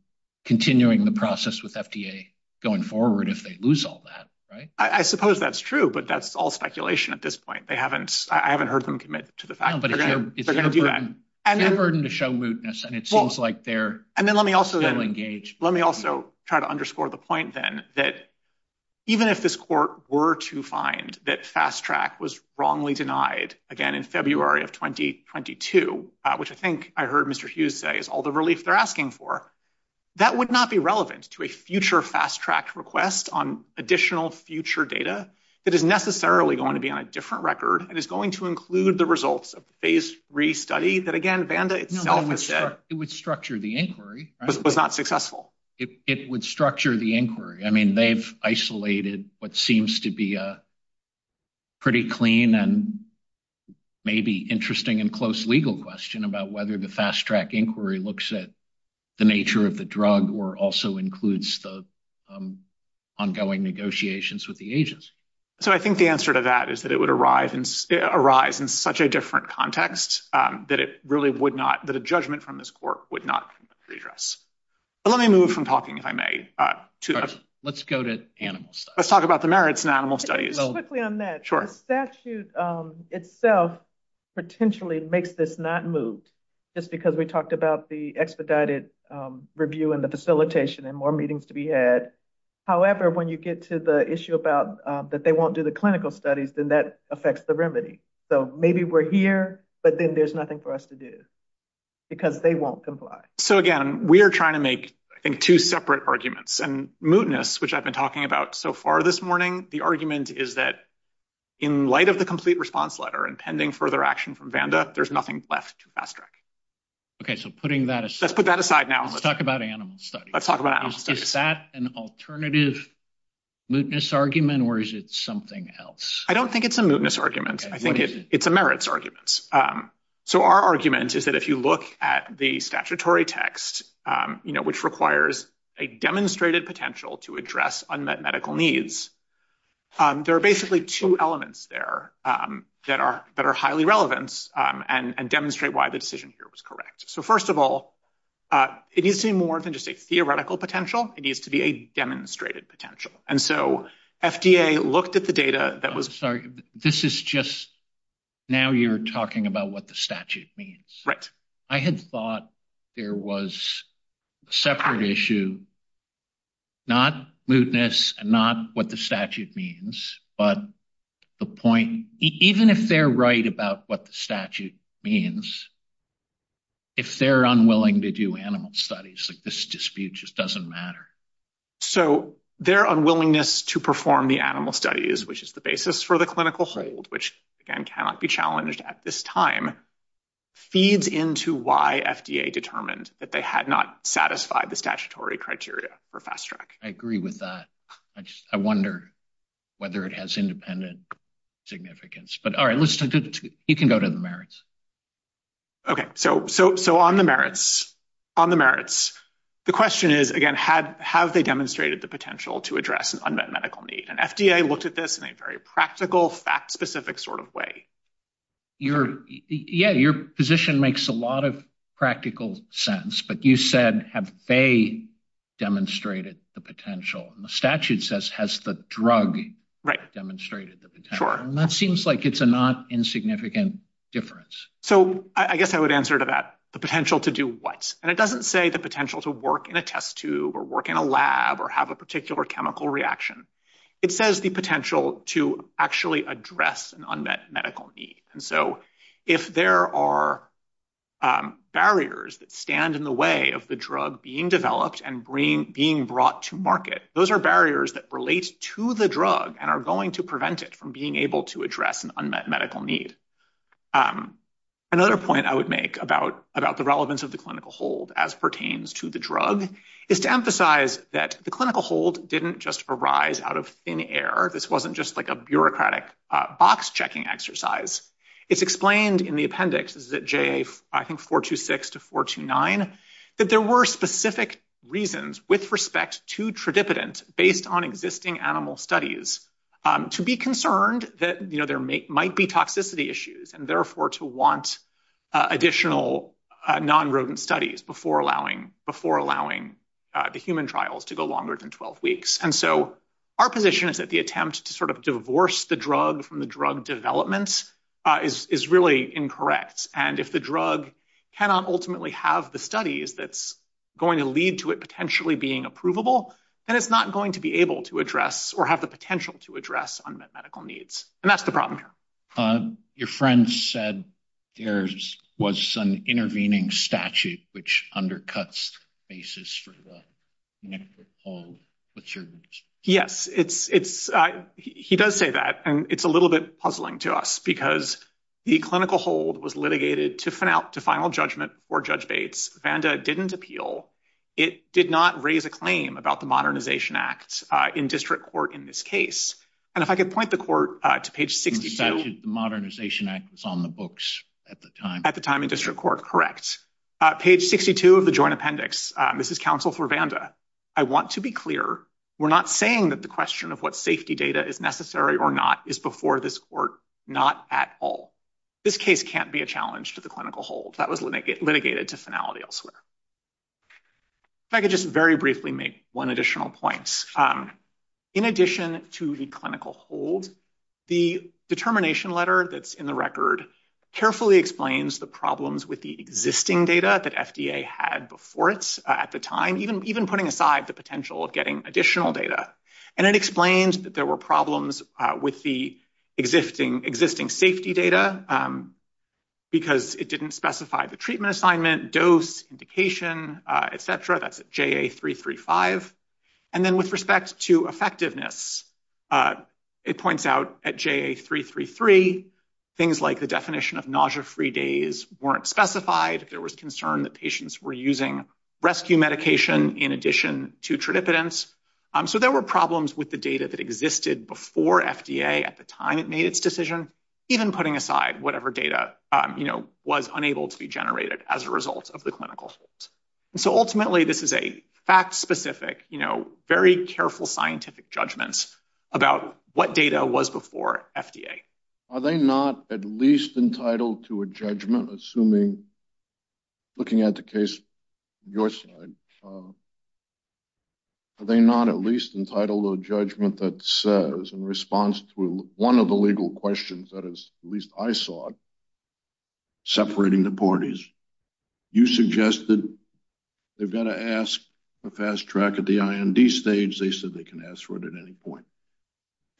continuing the process with FDA going forward if they lose all that. Right. I suppose that's true. But that's all speculation at this point. They haven't I haven't heard them commit to the fact that they're going to do that and their burden to show mootness. And it seems like they're and then let me also engage. Let me also try to underscore the point then that even if this court were to find that Fast Track was wrongly denied again in February of 2022, which I think I heard Mr. Hughes say is all the relief they're asking for, that would not be relevant to a future Fast Track request on additional future data that is necessarily going to be on a different record and is going to include the results of the phase three study that again, Vanda itself said it would structure the inquiry was not successful. It would structure the inquiry. I mean, they've isolated what seems to be a pretty clean and maybe interesting and close legal question about whether the Fast Track inquiry looks at the nature of the drug or also includes the ongoing negotiations with the agents. So I think the answer to that is that it would arrive and arise in such a different context that it really would not that a judgment from this court would not address. But let me move from talking if I may. Let's go to animals. Let's talk about the merits and animal studies quickly on that. Sure statute itself potentially makes this not moved just because we talked about the expedited review and the facilitation and more meetings to be had. However, when you get to the issue about that, they won't do the clinical studies, then that affects the remedy. So maybe we're here, but then there's nothing for us to do because they won't comply. So, again, we're trying to make two separate arguments and mootness, which I've been talking about so far this morning. The argument is that in light of the complete response letter and pending further action from Vanda, there's nothing left to fast track. OK, so putting that let's put that aside. Now, let's talk about animals. Let's talk about is that an alternative mootness argument or is it something else? I don't think it's a mootness argument. I think it's a merits arguments. So our argument is that if you look at the statutory text, which requires a demonstrated potential to address unmet medical needs, there are basically two elements there that are that are highly relevant and demonstrate why the decision here was correct. So, first of all, it needs to be more than just a theoretical potential. It needs to be a demonstrated potential. And so FDA looked at the data that was sorry. This is just now you're talking about what the statute means. Right. I had thought there was a separate issue. Not mootness and not what the statute means, but the point, even if they're right about what the statute means. If they're unwilling to do animal studies like this dispute just doesn't matter. So their unwillingness to perform the animal studies, which is the basis for the clinical hold, which, again, cannot be challenged at this time, feeds into why FDA determined that they had not satisfied the statutory criteria for fast track. I agree with that. I wonder whether it has independent significance. But all right, let's do it. You can go to the merits. OK, so so so on the merits on the merits. The question is, again, had have they demonstrated the potential to address an unmet medical need? And FDA looked at this in a very practical, fact specific sort of way. You're yeah, your position makes a lot of practical sense. But you said, have they demonstrated the potential? And the statute says, has the drug. Right. Demonstrated that that seems like it's a not insignificant difference. So I guess I would answer to that the potential to do what? And it doesn't say the potential to work in a test tube or work in a lab or have a particular chemical reaction. It says the potential to actually address an unmet medical need. And so if there are barriers that stand in the way of the drug being developed and being brought to market, those are barriers that relate to the drug and are going to prevent it from being able to address an unmet medical need. And another point I would make about the relevance of the clinical hold as pertains to the drug is to emphasize that the clinical hold didn't just arise out of thin air. This wasn't just like a bureaucratic box checking exercise. It's explained in the appendix that J, I think, 4 to 6 to 4 to 9, that there were specific reasons with respect to tridipitans based on existing animal studies to be concerned that there might be toxicity issues and therefore to want additional non-rodent studies before allowing the human trials to go longer than 12 weeks. And so our position is that the attempt to sort of divorce the drug from the drug development is really incorrect. And if the drug cannot ultimately have the studies that's going to lead to it potentially being approvable, then it's not going to be able to address or have the potential to address unmet medical needs. And that's the problem here. Your friend said there was an intervening statute which undercuts the basis for the clinical hold. Yes, he does say that, and it's a little bit puzzling to us because the clinical hold was litigated to final judgment for Judge Bates. Vanda didn't appeal. It did not raise a claim about the Modernization Act in district court in this case. And if I could point the court to page 62. The Modernization Act was on the books at the time. At the time in district court, correct. Page 62 of the joint appendix. This is counsel for Vanda. I want to be clear. We're not saying that the question of what safety data is necessary or not is before this court, not at all. This case can't be a challenge to the clinical hold. That was litigated to finality elsewhere. If I could just very briefly make one additional point. In addition to the clinical hold, the determination letter that's in the record carefully explains the problems with the existing data that FDA had before it at the time, even putting aside the potential of getting additional data. And it explains that there were problems with the existing safety data because it didn't specify the treatment assignment, dose, indication, et cetera. That's at JA335. And then with respect to effectiveness, it points out at JA333, things like the definition of nausea-free days weren't specified. There was concern that patients were using rescue medication in addition to tridipidens. So there were problems with the data that existed before FDA at the time it made its decision, even putting aside whatever data was unable to be generated as a result of the clinical hold. And so ultimately, this is a fact-specific, very careful scientific judgments about what data was before FDA. Are they not at least entitled to a judgment, assuming, looking at the case on your side, are they not at least entitled to a judgment that says in response to one of the legal questions at least I saw separating the parties, you suggested they've got to ask for fast track at the IND stage. They said they can ask for it at any point.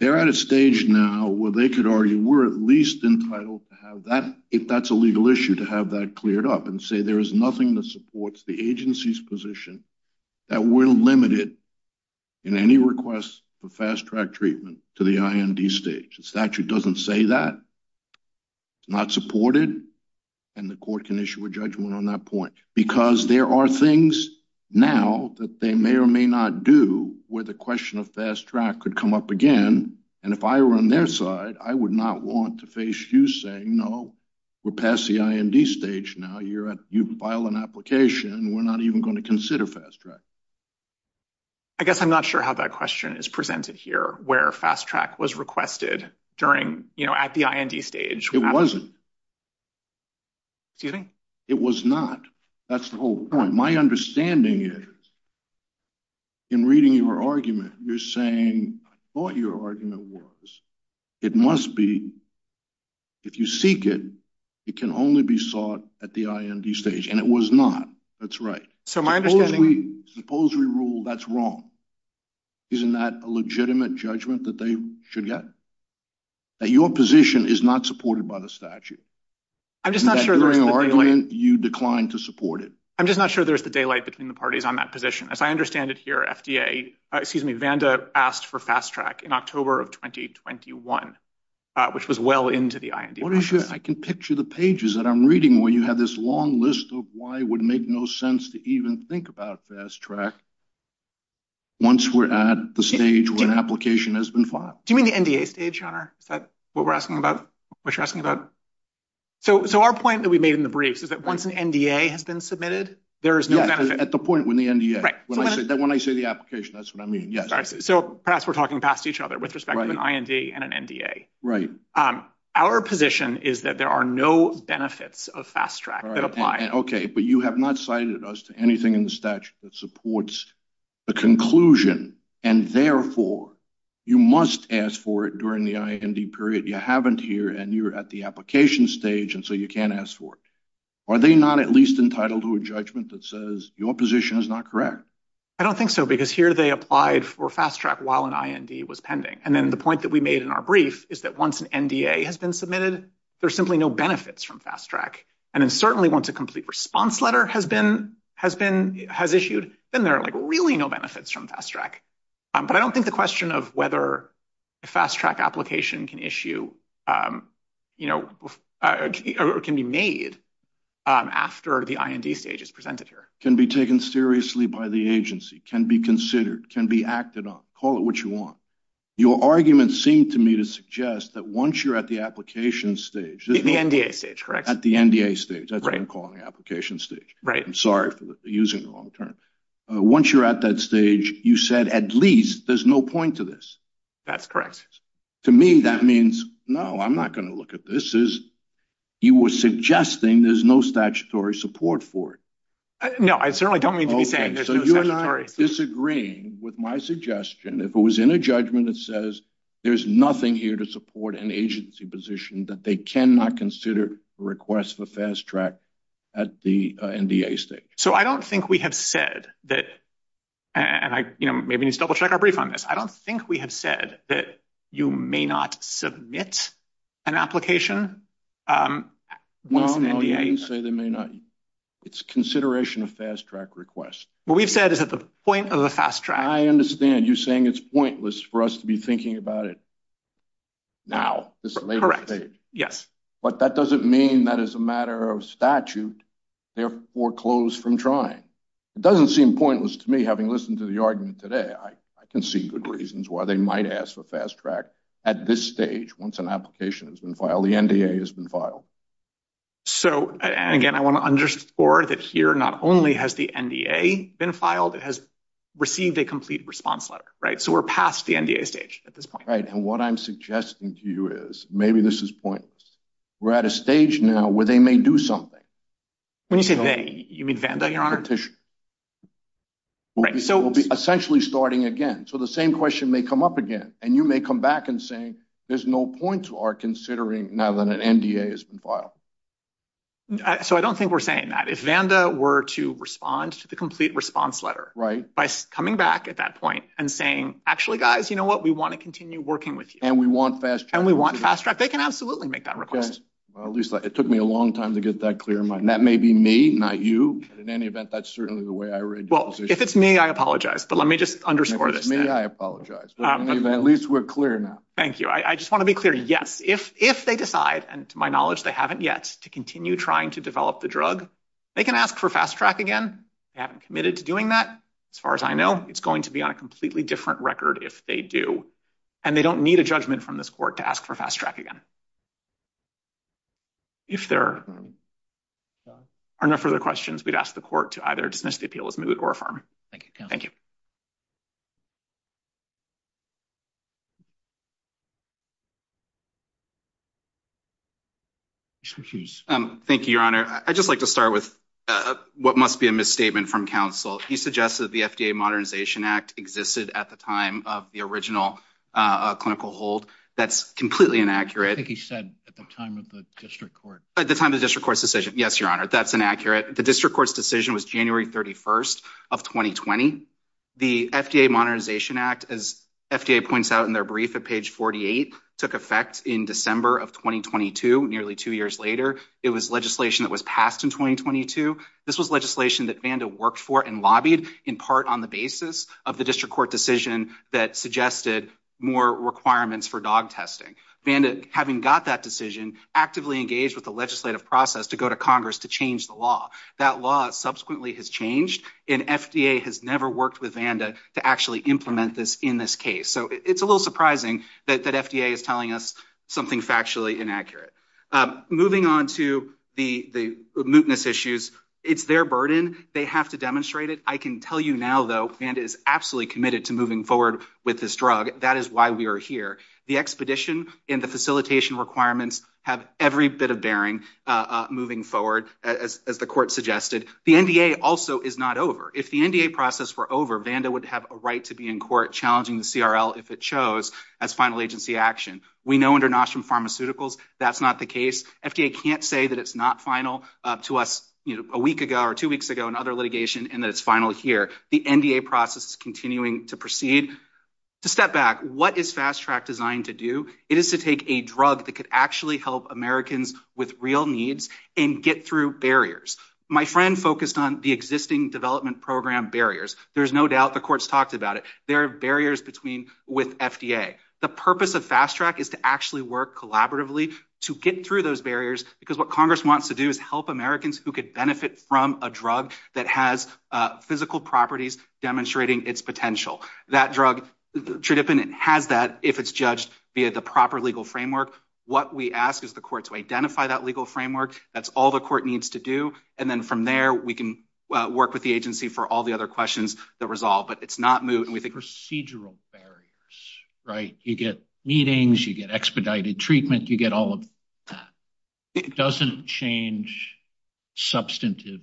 They're at a stage now where they could argue we're at least entitled to have that, if that's a legal issue, to have that cleared up and say there is nothing that supports the agency's position that we're limited in any request for fast track treatment to the IND stage. The statute doesn't say that, it's not supported, and the court can issue a judgment on that point because there are things now that they may or may not do where the question of fast track could come up again. And if I were on their side, I would not want to face you saying, no, we're past the IND stage now, you've filed an application, we're not even going to consider fast track. I guess I'm not sure how that question is presented here, where fast track was requested during, you know, at the IND stage. It wasn't. Excuse me? It was not, that's the whole point. My understanding is, in reading your argument, you're saying, I thought your argument was, it must be, if you seek it, it can only be sought at the IND stage. And it was not, that's right. So my understanding... Suppose we rule that's wrong. Isn't that a legitimate judgment that they should get? That your position is not supported by the statute? I'm just not sure there's the daylight. You declined to support it. I'm just not sure there's the daylight between the parties on that position. As I understand it here, FDA, excuse me, Vanda asked for fast track in October of 2021, which was well into the IND process. I can picture the pages that I'm reading where you have this long list of why it would make no sense to even think about fast track once we're at the stage where an application has been filed. Do you mean the NDA stage, John? Is that what we're asking about? What you're asking about? So our point that we made in the briefs is that once an NDA has been submitted, there is no benefit. At the point when the NDA, when I say the application, that's what I mean. Yes. So perhaps we're talking past each other with respect to an IND and an NDA. Right. Our position is that there are no benefits of fast track that apply. Okay, but you have not cited us to anything in the statute that supports the conclusion. And therefore, you must ask for it during the IND period. You haven't here and you're at the application stage. And so you can't ask for it. Are they not at least entitled to a judgment that says your position is not correct? I don't think so because here they applied for fast track while an IND was pending. And then the point that we made in our brief is that once an NDA has been submitted, there's simply no benefits from fast track. And then certainly once a complete response letter has issued, then there are like really no benefits from fast track. But I don't think the question of whether a fast track application can issue, you know, or can be made after the IND stage is presented here. Can be taken seriously by the agency, can be considered, can be acted on, call it what you want. Your argument seemed to me to suggest that once you're at the application stage. The NDA stage, correct. The NDA stage, that's what I'm calling the application stage. Right. I'm sorry for using the wrong term. Once you're at that stage, you said at least there's no point to this. That's correct. To me, that means, no, I'm not going to look at this as you were suggesting there's no statutory support for it. No, I certainly don't mean to be saying there's no statutory. Disagreeing with my suggestion. If it was in a judgment that says there's nothing here to support an agency position that they cannot consider a request for fast track at the NDA stage. So, I don't think we have said that, and I, you know, maybe need to double check our brief on this. I don't think we have said that you may not submit an application. Well, you didn't say they may not. It's consideration of fast track requests. What we've said is at the point of the fast track. I understand you saying it's pointless for us to be thinking about it. Now. Correct. Yes. But that doesn't mean that as a matter of statute, they're foreclosed from trying. It doesn't seem pointless to me having listened to the argument today. I can see good reasons why they might ask for fast track at this stage. Once an application has been filed, the NDA has been filed. So, and again, I want to underscore that here, not only has the NDA been filed, it has received a complete response letter, right? So, we're past the NDA stage at this point. And what I'm suggesting to you is maybe this is pointless. We're at a stage now where they may do something. When you say they, you mean Vanda, your honor? We'll be essentially starting again. So, the same question may come up again and you may come back and say, there's no point to our considering now that an NDA has been filed. So, I don't think we're saying that. If Vanda were to respond to the complete response letter. Right. By coming back at that point and saying, actually, guys, you know what? We want to continue working with you. And we want fast track. And we want fast track. They can absolutely make that request. Well, at least it took me a long time to get that clear in mind. That may be me, not you. In any event, that's certainly the way I read it. Well, if it's me, I apologize. But let me just underscore this. If it's me, I apologize. At least we're clear now. Thank you. I just want to be clear. Yes, if they decide, and to my knowledge, they haven't yet to continue trying to develop the drug, they can ask for fast track again. They haven't committed to doing that. As far as I know, it's going to be on a completely different record if they do. And they don't need a judgment from this court to ask for fast track again. If there are no further questions, we'd ask the court to either dismiss the appeal as moot or affirm. Thank you. Thank you. Thank you, Your Honor. I'd just like to start with what must be a misstatement from counsel. He suggests that the FDA Modernization Act existed at the time of the original clinical hold. That's completely inaccurate. I think he said at the time of the district court. At the time of the district court's decision. Yes, Your Honor. That's inaccurate. The district court's decision was January 31st of 2020. The FDA Modernization Act, as FDA points out in their brief at page 48, took effect in December of 2022, nearly two years later. It was legislation that was passed in 2022. This was legislation that Vanda worked for and lobbied in part on the basis of the district court decision that suggested more requirements for dog testing. Vanda, having got that decision, actively engaged with the legislative process to go to Congress to change the law. That law subsequently has changed, and FDA has never worked with Vanda to actually implement this in this case. So it's a little surprising that FDA is telling us something factually inaccurate. Moving on to the mootness issues. It's their burden. They have to demonstrate it. I can tell you now, though, Vanda is absolutely committed to moving forward with this drug. That is why we are here. The expedition and the facilitation requirements have every bit of bearing moving forward, as the court suggested. The NDA also is not over. If the NDA process were over, Vanda would have a right to be in court challenging the CRL, if it chose, as final agency action. We know under Nostrum Pharmaceuticals that's not the case. FDA can't say that it's not final to us a week ago or two weeks ago in other litigation and that it's final here. The NDA process is continuing to proceed. To step back, what is Fast Track designed to do? It is to take a drug that could actually help Americans with real needs and get through barriers. My friend focused on the existing development program barriers. There's no doubt the court's talked about it. There are barriers with FDA. The purpose of Fast Track is to actually work collaboratively to get through those barriers, because what Congress wants to do is help Americans who could benefit from a drug that has physical properties demonstrating its potential. That drug, Tredyffin, has that if it's judged via the proper legal framework. What we ask is the court to identify that legal framework. That's all the court needs to do. And then from there, we can work with the agency for all the other questions that resolve. But it's not moot. Procedural barriers, right? You get meetings. You get expedited treatment. You get all of that. It doesn't change substantive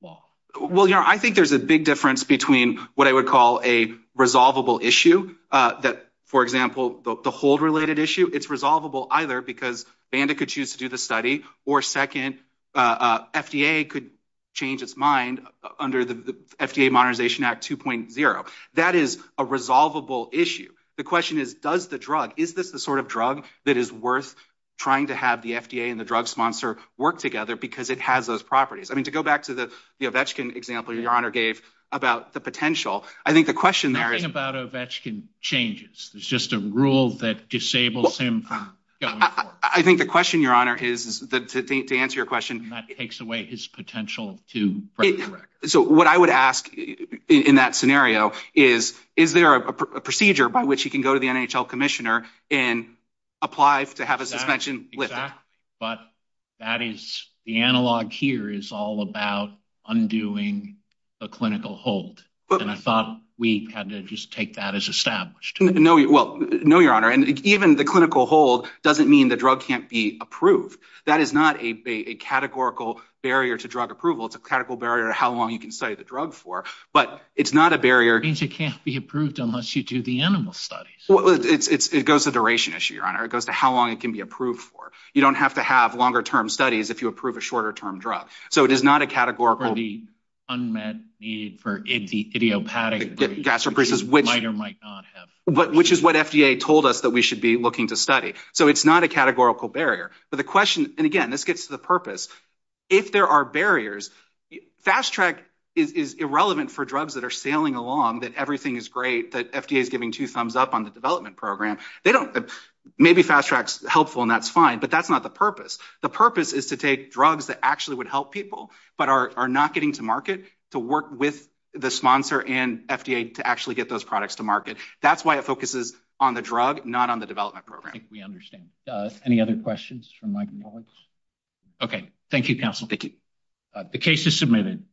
law. Well, I think there's a big difference between what I would call a resolvable issue that, for example, the hold-related issue. It's resolvable either because Banda could choose to do the study or second, FDA could change its mind under the FDA Modernization Act 2.0. That is a resolvable issue. The question is, does the drug, is this the sort of drug that is worth trying to have the FDA and the drug sponsor work together because it has those properties? I mean, to go back to the Ovechkin example your honor gave about the potential. I think the question there is... Nothing about Ovechkin changes. There's just a rule that disables him from going forward. I think the question, your honor, is that to answer your question... And that takes away his potential to break the record. So what I would ask in that scenario is, is there a procedure by which he can go to the NHL commissioner and apply to have a suspension lifted? But that is, the analog here is all about undoing the clinical hold. And I thought we had to just take that as established. No, well, no, your honor. And even the clinical hold doesn't mean the drug can't be approved. That is not a categorical barrier to drug approval. It's a categorical barrier to how long you can study the drug for. But it's not a barrier... Means it can't be approved unless you do the animal studies. Well, it goes to the duration issue, your honor. It goes to how long it can be approved for. You don't have to have longer-term studies if you approve a shorter-term drug. So it is not a categorical... For the unmet need for idiopathic... Gastroparesis, which... Might or might not have... Which is what FDA told us that we should be looking to study. So it's not a categorical barrier. But the question, and again, this gets to the purpose. If there are barriers... Fast-Track is irrelevant for drugs that are sailing along, that everything is great, that FDA is giving two thumbs up on the development program. They don't... Maybe Fast-Track's helpful and that's fine. But that's not the purpose. The purpose is to take drugs that actually would help people but are not getting to market to work with the sponsor and FDA to actually get those products to market. That's why it focuses on the drug, not on the development program. I think we understand. Any other questions from my colleagues? Okay. Thank you, counsel. Thank you. The case is submitted.